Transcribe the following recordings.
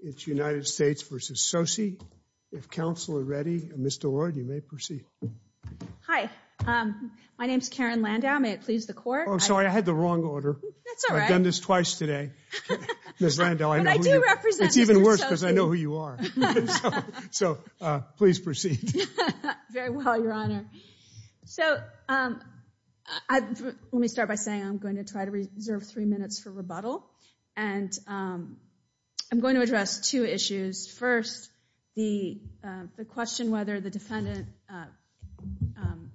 It's United States v. Tsosie. If counsel are ready, Ms. Delroy, you may proceed. Hi. My name's Karen Landau. May it please the Court? Oh, I'm sorry. I had the wrong order. That's all right. I've done this twice today. Ms. Landau, I know who you are. But I do represent Mr. Tsosie. It's even worse because I know who you are. So, please proceed. Very well, Your Honor. So, let me start by saying I'm going to try to reserve three minutes for rebuttal. And I'm going to address two issues. First, the question whether the defendant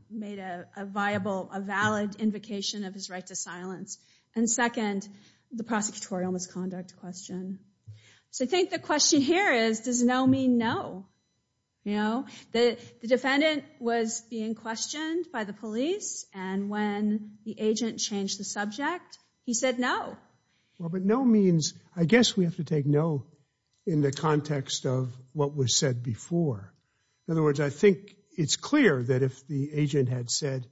made a viable, a valid invocation of his right to silence. And second, the prosecutorial misconduct question. So, I think the question here is, does no mean no? You know, the defendant was being questioned by the police. And when the agent changed the subject, he said no. Well, but no means, I guess we have to take no in the context of what was said before. In other words, I think it's clear that if the agent had said,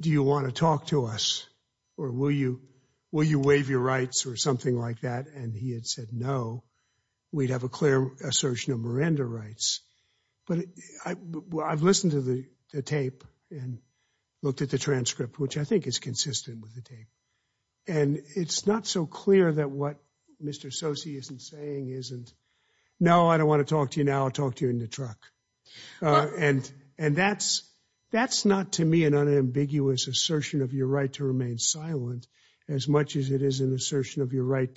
do you want to talk to us, or will you waive your rights or something like that, and he had said no, we'd have a clear assertion of Miranda rights. But I've listened to the tape and looked at the transcript, which I think is consistent with the tape. And it's not so clear that what Mr. Soce isn't saying isn't, no, I don't want to talk to you now. I'll talk to you in the truck. And that's not to me an unambiguous assertion of your right to remain silent as much as it is an assertion of your right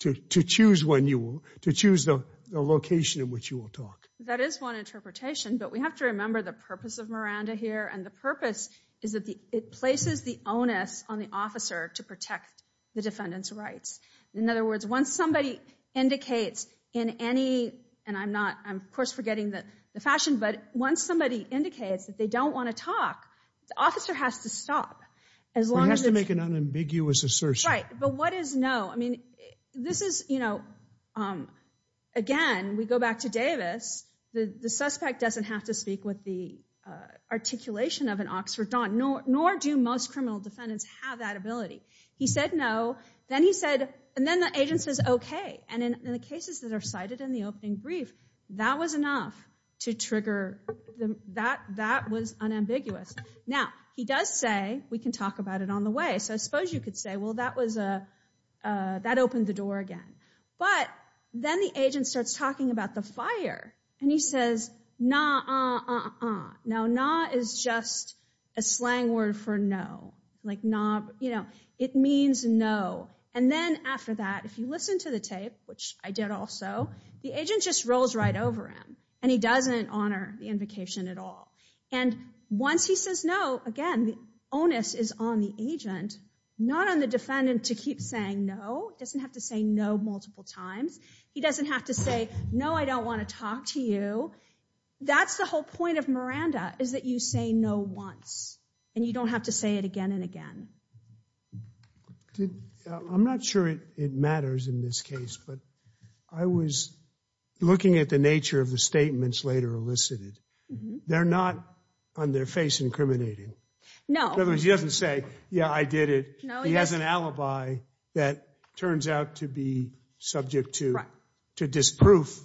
to choose when you will, to choose the location in which you will talk. That is one interpretation. But we have to remember the purpose of Miranda here. And the purpose is that it places the onus on the officer to protect the defendant's rights. In other words, once somebody indicates in any, and I'm not, I'm, of course, forgetting the fashion, but once somebody indicates that they don't want to talk, the officer has to stop. He has to make an unambiguous assertion. Right, but what is no? I mean, this is, you know, again, we go back to Davis. The suspect doesn't have to speak with the articulation of an Oxford don, nor do most criminal defendants have that ability. He said no. Then he said, and then the agent says okay. And in the cases that are cited in the opening brief, that was enough to trigger, that was unambiguous. Now, he does say we can talk about it on the way. So I suppose you could say, well, that was a, that opened the door again. But then the agent starts talking about the fire, and he says, nah, uh, uh, uh, uh. Now, nah is just a slang word for no. Like nah, you know, it means no. And then after that, if you listen to the tape, which I did also, the agent just rolls right over him, and he doesn't honor the invocation at all. And once he says no, again, the onus is on the agent, not on the defendant to keep saying no. He doesn't have to say no multiple times. He doesn't have to say, no, I don't want to talk to you. That's the whole point of Miranda is that you say no once, and you don't have to say it again and again. I'm not sure it matters in this case, but I was looking at the nature of the statements later elicited. They're not on their face incriminating. No. In other words, he doesn't say, yeah, I did it. He has an alibi that turns out to be subject to disproof,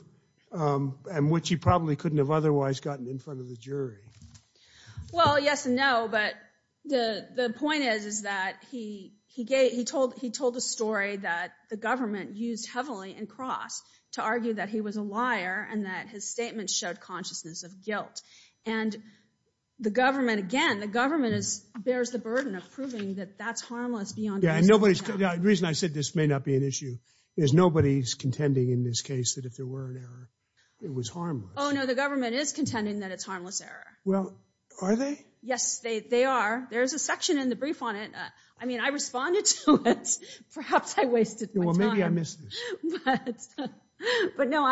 and which he probably couldn't have otherwise gotten in front of the jury. Well, yes and no, but the point is that he told a story that the government used heavily in Cross to argue that he was a liar and that his statements showed consciousness of guilt. And the government, again, the government bears the burden of proving that that's harmless beyond reason. The reason I said this may not be an issue is nobody's contending in this case that if there were an error, it was harmless. Oh, no, the government is contending that it's harmless error. Well, are they? Yes, they are. There's a section in the brief on it. I mean, I responded to it. Perhaps I wasted my time. Well, maybe I missed this. But no,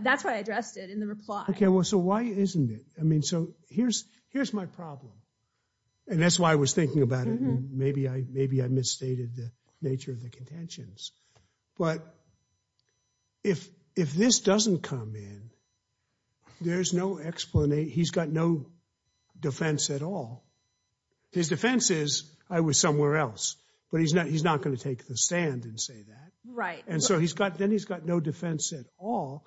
that's why I addressed it in the reply. Okay, well, so why isn't it? I mean, so here's my problem, and that's why I was thinking about it, and maybe I misstated the nature of the contentions. But if this doesn't come in, there's no explanation. He's got no defense at all. His defense is I was somewhere else, but he's not going to take the stand and say that. Right. And so then he's got no defense at all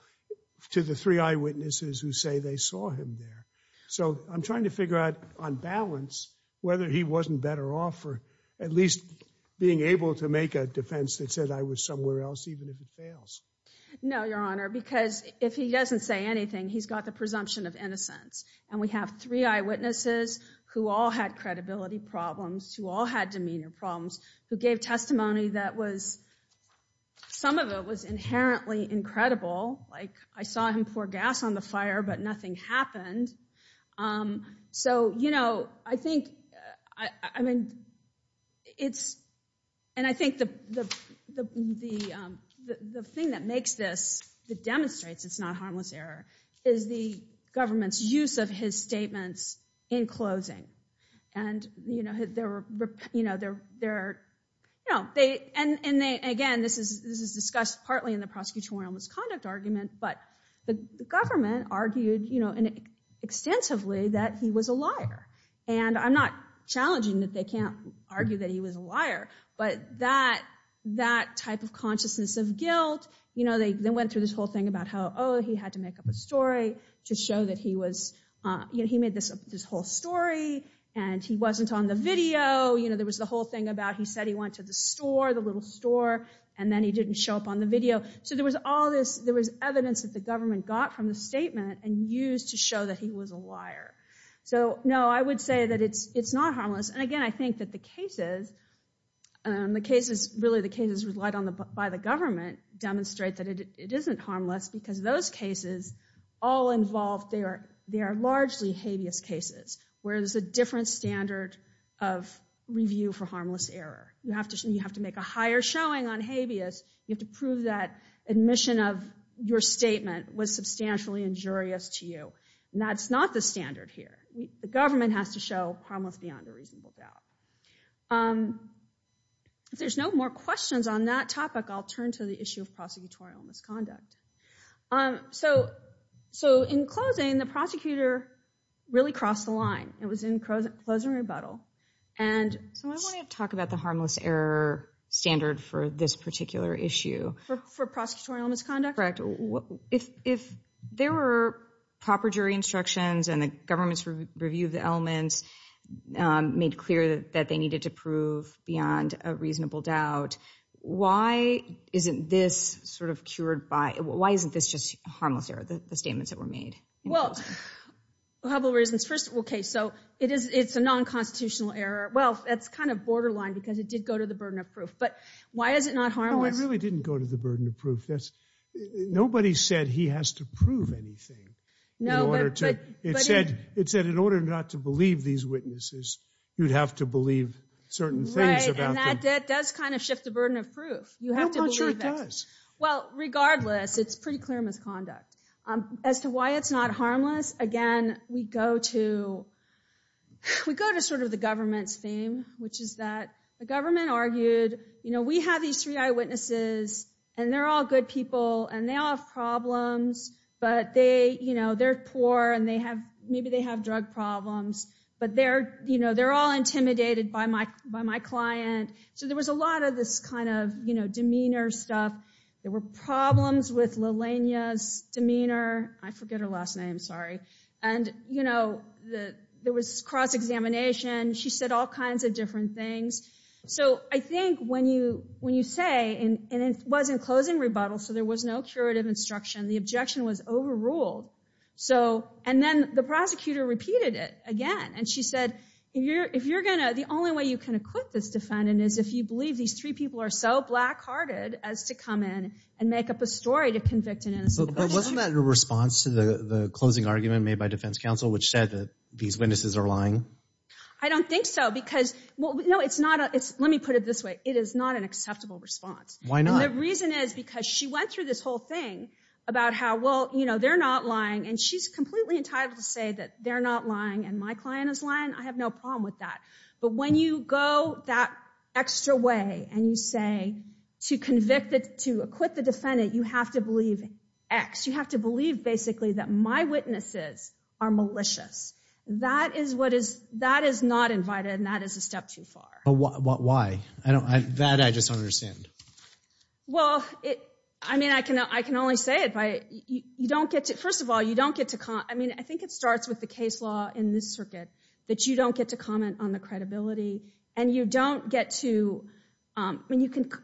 to the three eyewitnesses who say they saw him there. So I'm trying to figure out on balance whether he wasn't better off for at least being able to make a defense that said I was somewhere else even if it fails. No, Your Honor, because if he doesn't say anything, he's got the presumption of innocence. And we have three eyewitnesses who all had credibility problems, who all had demeanor problems, who gave testimony that was, some of it was inherently incredible, like I saw him pour gas on the fire, but nothing happened. So, you know, I think, I mean, it's, and I think the thing that makes this, that demonstrates it's not harmless error is the government's use of his statements in closing. And, you know, they're, you know, they're, you know, they, and again, this is discussed partly in the prosecutorial misconduct argument, but the government argued, you know, extensively that he was a liar. And I'm not challenging that they can't argue that he was a liar, but that type of consciousness of guilt, you know, they went through this whole thing about how, oh, he had to make up a story to show that he was, you know, he made this whole story and he wasn't on the video. You know, there was the whole thing about he said he went to the store, the little store, and then he didn't show up on the video. So there was all this, there was evidence that the government got from the statement and used to show that he was a liar. So, no, I would say that it's not harmless. And again, I think that the cases, the cases, really the cases relied on by the government demonstrate that it isn't harmless because those cases, all involved, they are largely habeas cases, where there's a different standard of review for harmless error. You have to make a higher showing on habeas. You have to prove that admission of your statement was substantially injurious to you. And that's not the standard here. The government has to show harmless beyond a reasonable doubt. If there's no more questions on that topic, I'll turn to the issue of prosecutorial misconduct. So in closing, the prosecutor really crossed the line. It was in closing rebuttal. And so I want to talk about the harmless error standard for this particular issue. For prosecutorial misconduct? Correct. If there were proper jury instructions and the government's review of the elements made clear that they needed to prove beyond a reasonable doubt, why isn't this sort of cured by, why isn't this just harmless error, the statements that were made? Well, a couple of reasons. First, okay, so it's a non-constitutional error. Well, that's kind of borderline because it did go to the burden of proof. But why is it not harmless? No, it really didn't go to the burden of proof. Nobody said he has to prove anything. It said in order not to believe these witnesses, you'd have to believe certain things about them. Right, and that does kind of shift the burden of proof. I'm not sure it does. Well, regardless, it's pretty clear misconduct. As to why it's not harmless, again, we go to sort of the government's theme, which is that the government argued, you know, we have these three eyewitnesses, and they're all good people, and they all have problems, but they're poor, and maybe they have drug problems. But they're all intimidated by my client. So there was a lot of this kind of demeanor stuff. There were problems with Lilania's demeanor. I forget her last name, sorry. And, you know, there was cross-examination. She said all kinds of different things. So I think when you say, and it was in closing rebuttal, so there was no curative instruction, the objection was overruled. And then the prosecutor repeated it again, and she said, the only way you can acquit this defendant is if you believe these three people are so black-hearted as to come in and make up a story to convict an innocent person. But wasn't that in response to the closing argument made by defense counsel, which said that these witnesses are lying? I don't think so, because, well, no, let me put it this way. It is not an acceptable response. Why not? The reason is because she went through this whole thing about how, well, you know, they're not lying, and she's completely entitled to say that they're not lying and my client is lying. I have no problem with that. But when you go that extra way and you say to acquit the defendant, you have to believe X. You have to believe basically that my witnesses are malicious. That is not invited, and that is a step too far. But why? That I just don't understand. Well, I mean, I can only say it. First of all, you don't get to comment. I mean, I think it starts with the case law in this circuit that you don't get to comment on the credibility, and you don't get to – I mean,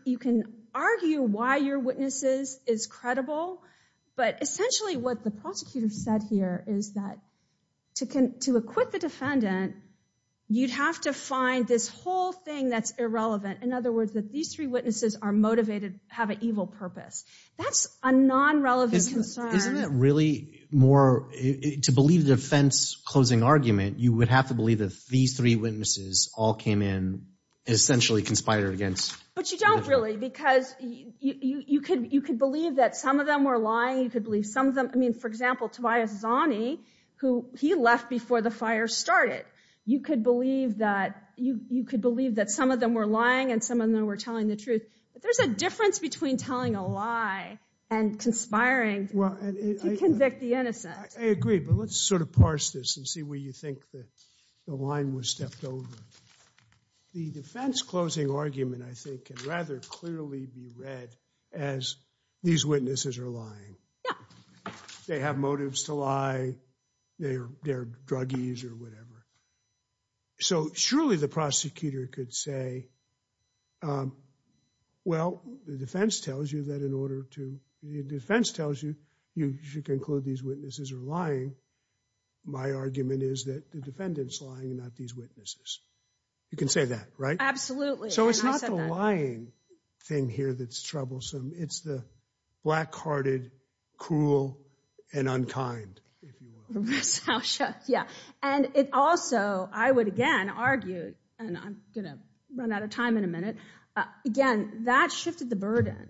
you can argue why your witness is credible, but essentially what the prosecutor said here is that to acquit the defendant, you'd have to find this whole thing that's irrelevant. In other words, that these three witnesses are motivated, have an evil purpose. That's a non-relevant concern. Isn't it really more – to believe the defense closing argument, you would have to believe that these three witnesses all came in essentially conspired against? But you don't really because you could believe that some of them were lying. You could believe some of them – I mean, for example, who he left before the fire started. You could believe that some of them were lying and some of them were telling the truth. But there's a difference between telling a lie and conspiring to convict the innocent. I agree, but let's sort of parse this and see where you think the line was stepped over. The defense closing argument, I think, can rather clearly be read as these witnesses are lying. Yeah. They have motives to lie. They're druggies or whatever. So surely the prosecutor could say, well, the defense tells you that in order to – the defense tells you you should conclude these witnesses are lying. My argument is that the defendant's lying and not these witnesses. You can say that, right? Absolutely. So it's not the lying thing here that's troublesome. It's the black-hearted, cruel, and unkind, if you will. Yeah. And it also – I would, again, argue – and I'm going to run out of time in a minute. Again, that shifted the burden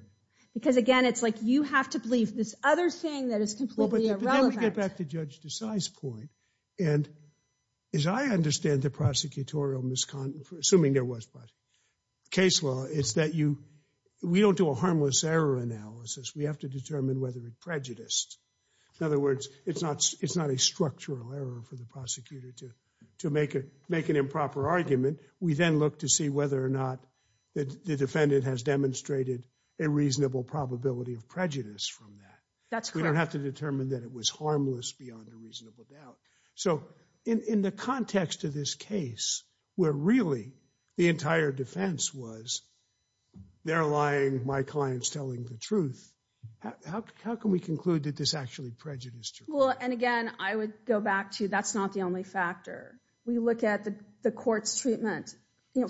because, again, it's like you have to believe this other thing that is completely irrelevant. Well, but then we get back to Judge Desai's point. And as I understand the prosecutorial – assuming there was – case law, it's that you – we don't do a harmless error analysis. We have to determine whether it prejudiced. In other words, it's not a structural error for the prosecutor to make an improper argument. We then look to see whether or not the defendant has demonstrated a reasonable probability of prejudice from that. That's correct. And then determine that it was harmless beyond a reasonable doubt. So in the context of this case where really the entire defense was they're lying, my client's telling the truth, how can we conclude that this actually prejudiced her? Well, and again, I would go back to that's not the only factor. We look at the court's treatment.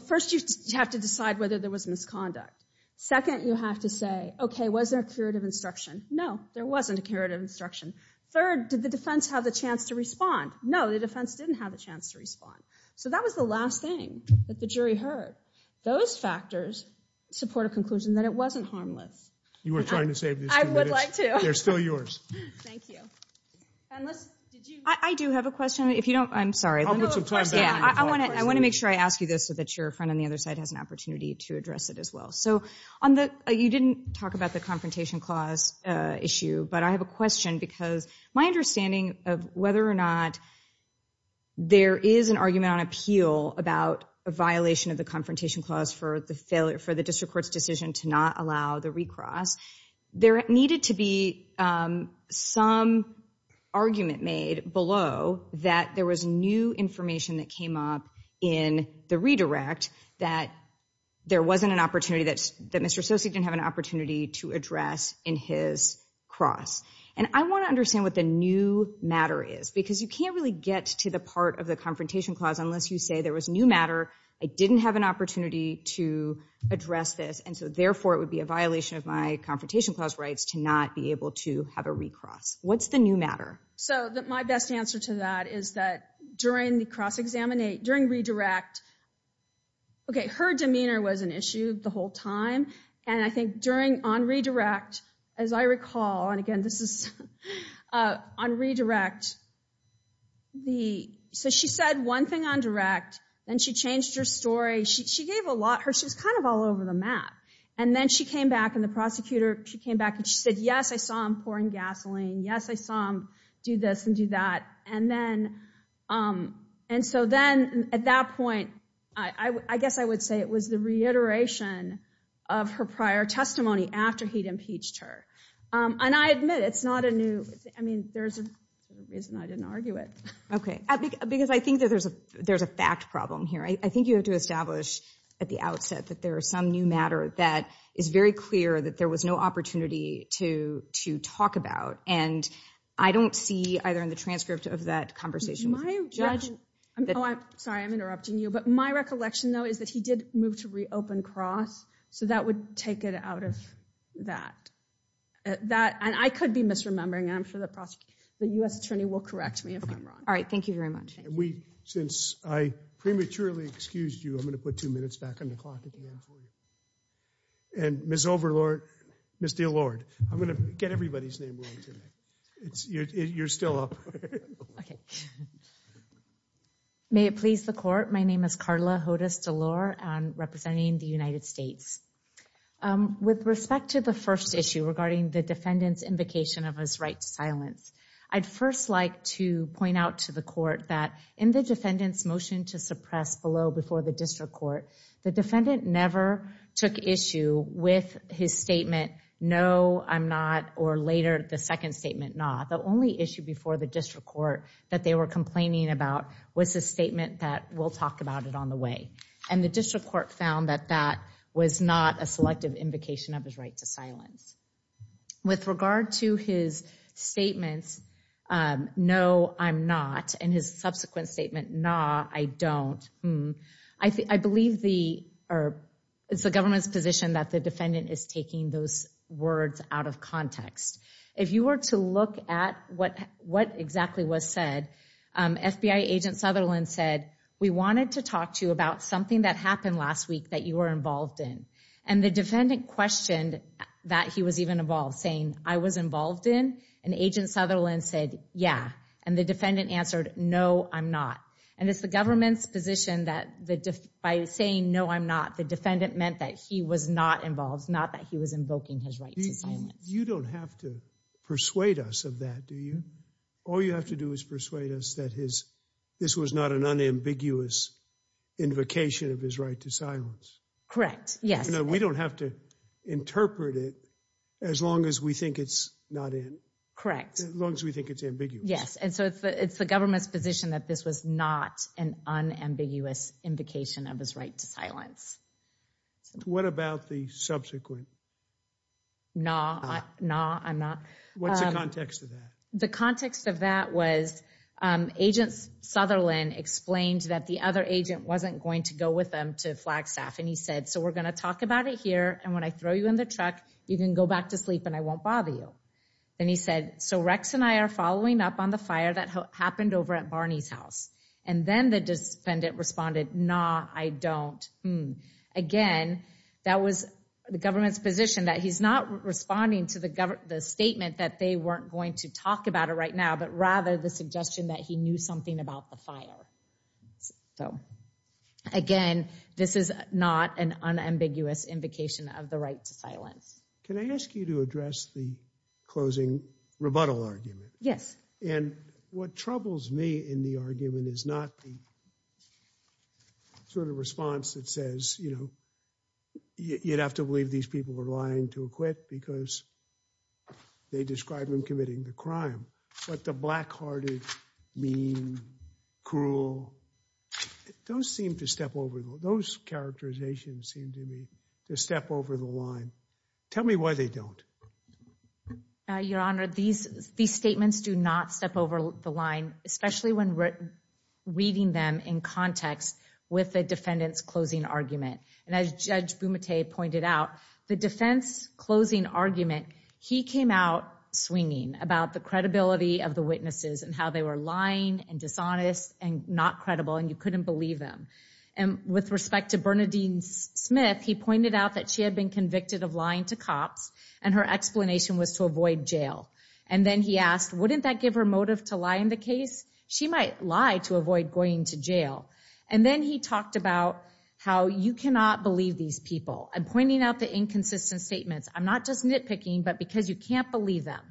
First, you have to decide whether there was misconduct. Second, you have to say, okay, was there a curative instruction? No, there wasn't a curative instruction. Third, did the defense have the chance to respond? No, the defense didn't have a chance to respond. So that was the last thing that the jury heard. Those factors support a conclusion that it wasn't harmless. You were trying to save these two minutes. I would like to. They're still yours. Thank you. And let's – did you – I do have a question. If you don't – I'm sorry. No, of course. I want to make sure I ask you this so that your friend on the other side has an opportunity to address it as well. So on the – you didn't talk about the Confrontation Clause issue, but I have a question because my understanding of whether or not there is an argument on appeal about a violation of the Confrontation Clause for the failure – for the district court's decision to not allow the recross, there needed to be some argument made below that there was new information that came up in the redirect that there wasn't an opportunity – that Mr. Sosek didn't have an opportunity to address in his cross. And I want to understand what the new matter is because you can't really get to the part of the Confrontation Clause unless you say there was new matter, I didn't have an opportunity to address this, and so therefore it would be a violation of my Confrontation Clause rights to not be able to have a recross. What's the new matter? So my best answer to that is that during the cross-examine – during redirect, okay, her demeanor was an issue the whole time, and I think during – on redirect, as I recall, and again this is on redirect, the – so she said one thing on direct, then she changed her story. She gave a lot – she was kind of all over the map. And then she came back and the prosecutor – she came back and she said, yes, I saw him pouring gasoline, yes, I saw him do this and do that. And then – and so then at that point, I guess I would say it was the reiteration of her prior testimony after he'd impeached her. And I admit it's not a new – I mean, there's a reason I didn't argue it. Okay, because I think that there's a fact problem here. I think you have to establish at the outset that there is some new matter that is very clear that there was no opportunity to talk about. And I don't see either in the transcript of that conversation with the judge – My recollection – oh, I'm sorry, I'm interrupting you. But my recollection, though, is that he did move to reopen Cross, so that would take it out of that. And I could be misremembering, and I'm sure the U.S. attorney will correct me if I'm wrong. All right, thank you very much. Since I prematurely excused you, I'm going to put two minutes back on the clock at the end for you. And Ms. Overlord – Ms. DeLorde, I'm going to get everybody's name wrong today. You're still up. Okay. May it please the Court, my name is Karla Hodes DeLorde. I'm representing the United States. With respect to the first issue regarding the defendant's invocation of his right to silence, I'd first like to point out to the Court that in the defendant's motion to suppress below before the district court, the defendant never took issue with his statement, no, I'm not, or later the second statement, nah. The only issue before the district court that they were complaining about was the statement that, we'll talk about it on the way. And the district court found that that was not a selective invocation of his right to silence. With regard to his statements, no, I'm not, and his subsequent statement, nah, I don't, I believe it's the government's position that the defendant is taking those words out of context. If you were to look at what exactly was said, FBI agent Sutherland said, we wanted to talk to you about something that happened last week that you were involved in. And the defendant questioned that he was even involved, saying, I was involved in? And agent Sutherland said, yeah. And the defendant answered, no, I'm not. And it's the government's position that by saying, no, I'm not, the defendant meant that he was not involved, not that he was invoking his right to silence. You don't have to persuade us of that, do you? All you have to do is persuade us that this was not an unambiguous invocation of his right to silence. Correct, yes. We don't have to interpret it as long as we think it's not in. Correct. As long as we think it's ambiguous. Yes. And so it's the government's position that this was not an unambiguous invocation of his right to silence. What about the subsequent? No, no, I'm not. What's the context of that? The context of that was agent Sutherland explained that the other agent wasn't going to go with them to Flagstaff. And he said, so we're going to talk about it here. And when I throw you in the truck, you can go back to sleep and I won't bother you. Then he said, so Rex and I are following up on the fire that happened over at Barney's house. And then the defendant responded, nah, I don't. Again, that was the government's position that he's not responding to the statement that they weren't going to talk about it right now, but rather the suggestion that he knew something about the fire. So, again, this is not an unambiguous invocation of the right to silence. Can I ask you to address the closing rebuttal argument? Yes. And what troubles me in the argument is not the sort of response that says, you know, you'd have to believe these people were lying to acquit because they described him committing the crime. But the black hearted, mean, cruel, those seem to step over, those characterizations seem to me to step over the line. Tell me why they don't. Your Honor, these statements do not step over the line, especially when reading them in context with the defendant's closing argument. And as Judge Bumate pointed out, the defense closing argument, he came out swinging about the credibility of the witnesses and how they were lying and dishonest and not credible and you couldn't believe them. And with respect to Bernadine Smith, he pointed out that she had been convicted of lying to cops and her explanation was to avoid jail. And then he asked, wouldn't that give her motive to lie in the case? She might lie to avoid going to jail. And then he talked about how you cannot believe these people. I'm pointing out the inconsistent statements. I'm not just nitpicking, but because you can't believe them.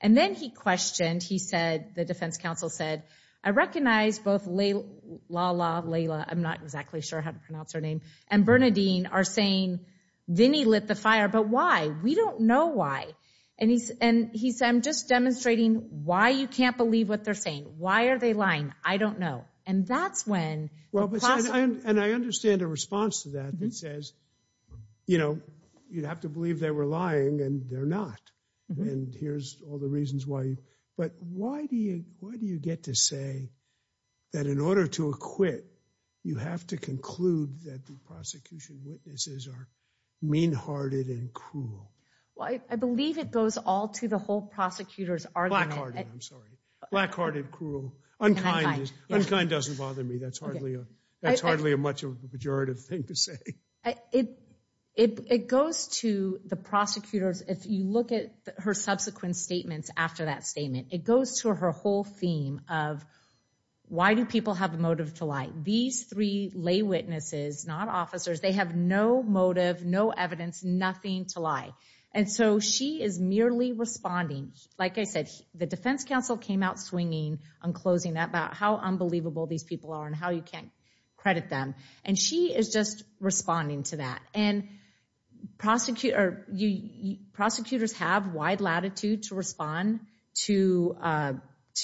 And then he questioned, he said, the defense counsel said, I recognize both Layla, I'm not exactly sure how to pronounce her name, and Bernadine are saying Vinny lit the fire, but why? We don't know why. And he said, I'm just demonstrating why you can't believe what they're saying. Why are they lying? I don't know. And I understand a response to that that says, you know, you'd have to believe they were lying and they're not. And here's all the reasons why. But why do you get to say that in order to acquit, you have to conclude that the prosecution witnesses are mean-hearted and cruel? Well, I believe it goes all to the whole prosecutor's argument. Black-hearted, I'm sorry. Black-hearted, cruel. Unkind. Unkind doesn't bother me. That's hardly a much of a pejorative thing to say. It goes to the prosecutors. If you look at her subsequent statements after that statement, it goes to her whole theme of why do people have a motive to lie? These three lay witnesses, not officers, they have no motive, no evidence, nothing to lie. And so she is merely responding. Like I said, the defense counsel came out swinging, unclosing that about how unbelievable these people are and how you can't credit them. And she is just responding to that. And prosecutors have wide latitude to respond to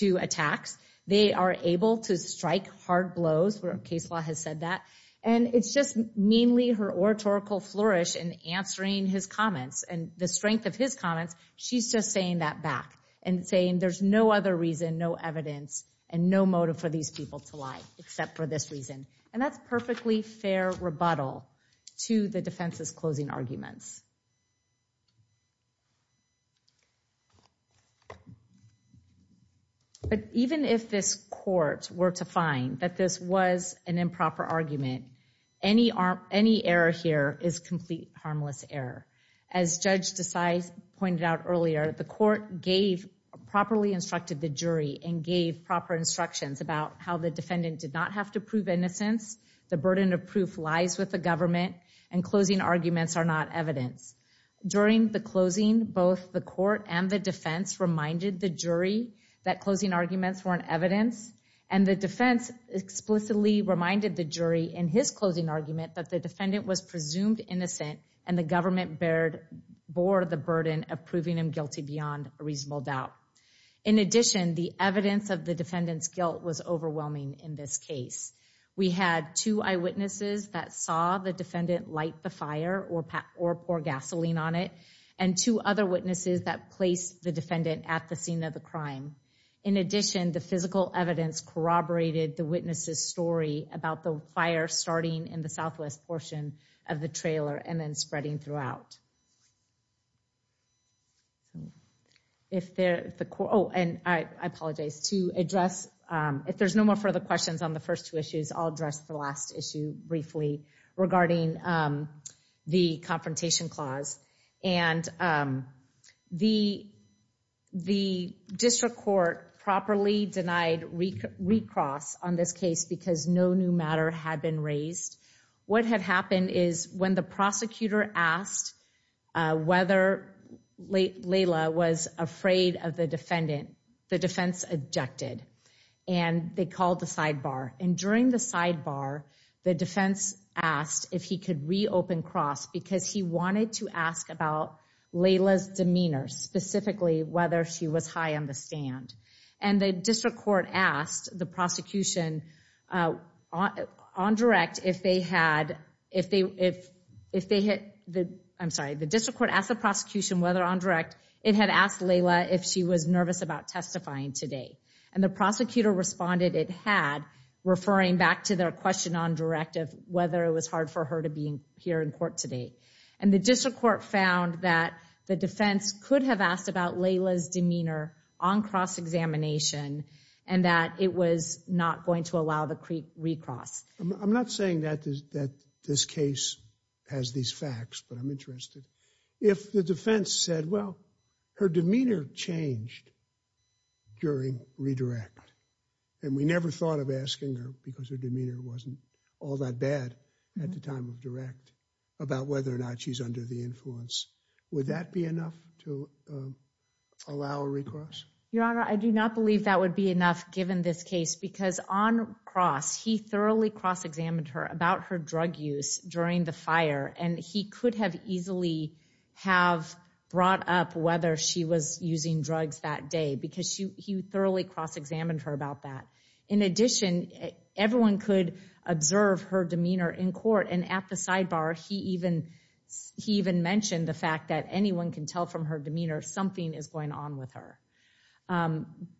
attacks. They are able to strike hard blows. Case law has said that. And it's just mainly her oratorical flourish in answering his comments and the strength of his comments, she's just saying that back and saying there's no other reason, no evidence, and no motive for these people to lie except for this reason. And that's perfectly fair rebuttal to the defense's closing arguments. But even if this court were to find that this was an improper argument, any error here is complete harmless error. As Judge Desai pointed out earlier, the court gave, properly instructed the jury and gave proper instructions about how the defendant did not have to prove innocence, the burden of proof lies with the government, and closing arguments are not evidence. During the closing, both the court and the defense reminded the jury that closing arguments weren't evidence, and the defense explicitly reminded the jury in his closing argument that the defendant was presumed innocent, and the government bore the burden of proving him guilty beyond reasonable doubt. In addition, the evidence of the defendant's guilt was overwhelming in this case. We had two eyewitnesses that saw the defendant light the fire or pour gasoline on it, and two other witnesses that placed the defendant at the scene of the crime. In addition, the physical evidence corroborated the witness's story about the fire starting in the southwest portion of the trailer and then spreading throughout. And I apologize, to address, if there's no more further questions on the first two issues, I'll address the last issue briefly regarding the confrontation clause. And the district court properly denied recross on this case because no new matter had been raised. What had happened is when the prosecutor asked whether Layla was afraid of the defendant, the defense objected. And they called the sidebar. And during the sidebar, the defense asked if he could reopen cross because he wanted to ask about Layla's demeanor, specifically whether she was high on the stand. And the district court asked the prosecution on direct if they had, if they, if, if they hit the, I'm sorry, the district court asked the prosecution whether on direct, it had asked Layla if she was nervous about testifying today. And the prosecutor responded, it had referring back to their question on directive, whether it was hard for her to be here in court today. And the district court found that the defense could have asked about Layla's examination and that it was not going to allow the creek recross. I'm not saying that this, that this case has these facts, but I'm interested if the defense said, well, her demeanor changed during redirect. And we never thought of asking her because her demeanor wasn't all that bad at the time of direct about whether or not she's under the influence. Would that be enough to allow a recross? Your honor. I do not believe that would be enough given this case because on cross, he thoroughly cross-examined her about her drug use during the fire. And he could have easily have brought up whether she was using drugs that day, because she, he thoroughly cross-examined her about that. In addition, everyone could observe her demeanor in court. And at the sidebar, he even, he even mentioned the fact that anyone can tell from her demeanor, something is going on with her.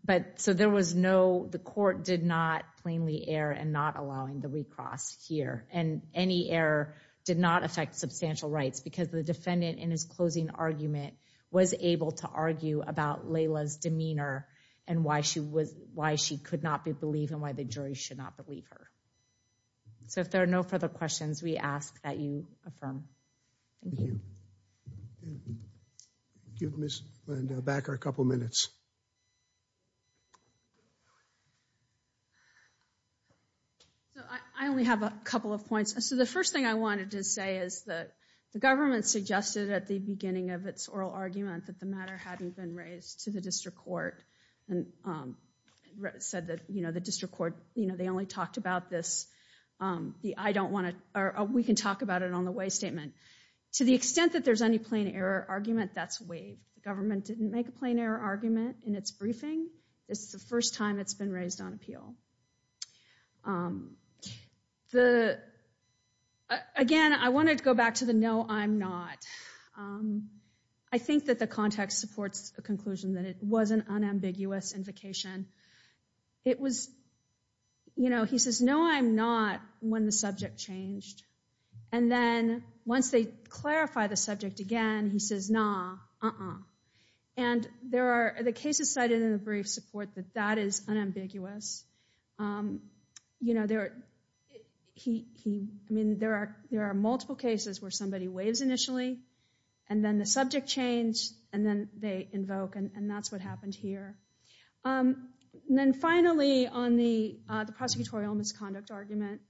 But so there was no, the court did not plainly err and not allowing the recross here and any error did not affect substantial rights because the defendant in his closing argument was able to argue about Layla's demeanor and why she was, why she could not be believed and why the jury should not believe her. So if there are no further questions, we ask that you affirm. Thank you. Give Ms. Landa back our couple minutes. So I only have a couple of points. So the first thing I wanted to say is that the government suggested at the beginning of its oral argument that the matter hadn't been raised to the district court and said that, you know, the district court, you know, they only talked about this. I don't want to, or we can talk about it on the way statement. To the extent that there's any plain error argument, that's waived. The government didn't make a plain error argument in its briefing. This is the first time it's been raised on appeal. Again, I wanted to go back to the no, I'm not. I think that the context supports a conclusion that it was an unambiguous invocation. It was, you know, he says, no, I'm not, when the subject changed. And then once they clarify the subject again, he says, nah, uh-uh. And there are the cases cited in the brief support that that is unambiguous. You know, there are, he, I mean, there are multiple cases where somebody waives initially and then the subject changed and then they invoke and that's what happened here. And then finally, on the prosecutorial misconduct argument,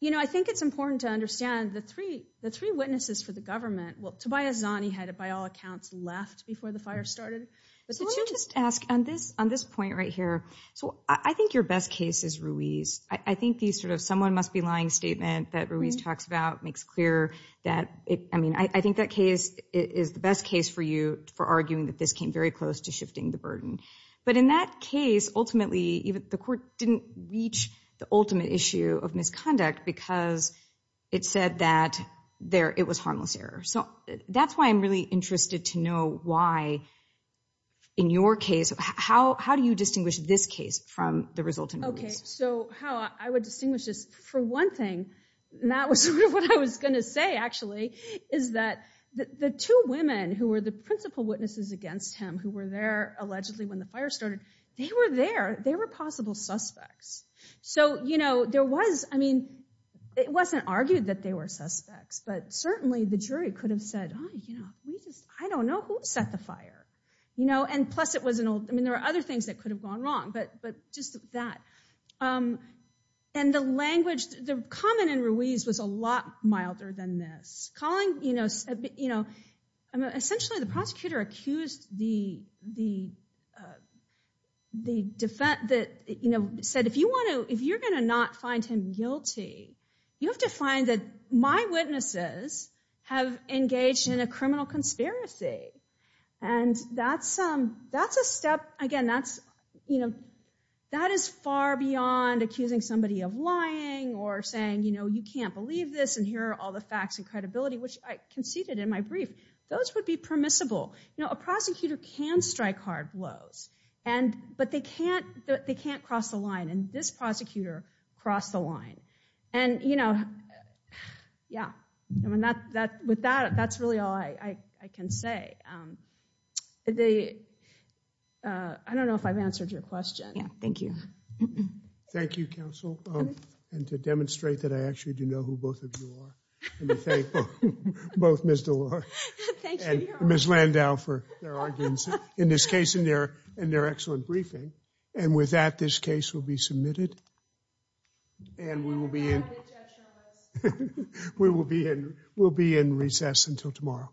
you know, I think it's important to understand the three witnesses for the government, well, Tobias Zani had it by all accounts left before the fire started. So let me just ask, on this point right here, so I think your best case is Ruiz. I think these sort of someone must be lying statement that Ruiz talks about makes clear that, I mean, I think that case is the best case for you for arguing that this came very close to shifting the burden. But in that case, ultimately, the court didn't reach the ultimate issue of misconduct because it said that it was harmless error. So that's why I'm really interested to know why, in your case, how do you distinguish this case from the result in Ruiz? Okay, so how I would distinguish this, for one thing, and that was sort of what I was going to say, actually, is that the two women who were the principal witnesses against him, who were there allegedly when the fire started, they were there. They were possible suspects. So, you know, there was, I mean, it wasn't argued that they were suspects, but certainly the jury could have said, oh, you know, I don't know who set the fire. You know, and plus it was an old, I mean, there were other things that could have gone wrong, but just that. And the language, the comment in Ruiz was a lot milder than this. Calling, you know, essentially the prosecutor accused the, you know, said if you're going to not find him guilty, you have to find that my witnesses have engaged in a criminal conspiracy. And that's a step, again, that's, you know, that is far beyond accusing somebody of lying or saying, you know, you can't believe this and here are all the facts and credibility, which I conceded in my brief. Those would be permissible. You know, a prosecutor can strike hard blows, but they can't cross the line, and this prosecutor crossed the line. And, you know, yeah. I mean, with that, that's really all I can say. I don't know if I've answered your question. Yeah, thank you. Thank you, counsel. And to demonstrate that I actually do know who both of you are, let me thank both Ms. DeLore and Ms. Landau for their arguments in this case and their excellent briefing. And with that, this case will be submitted. And we will be in recess until tomorrow.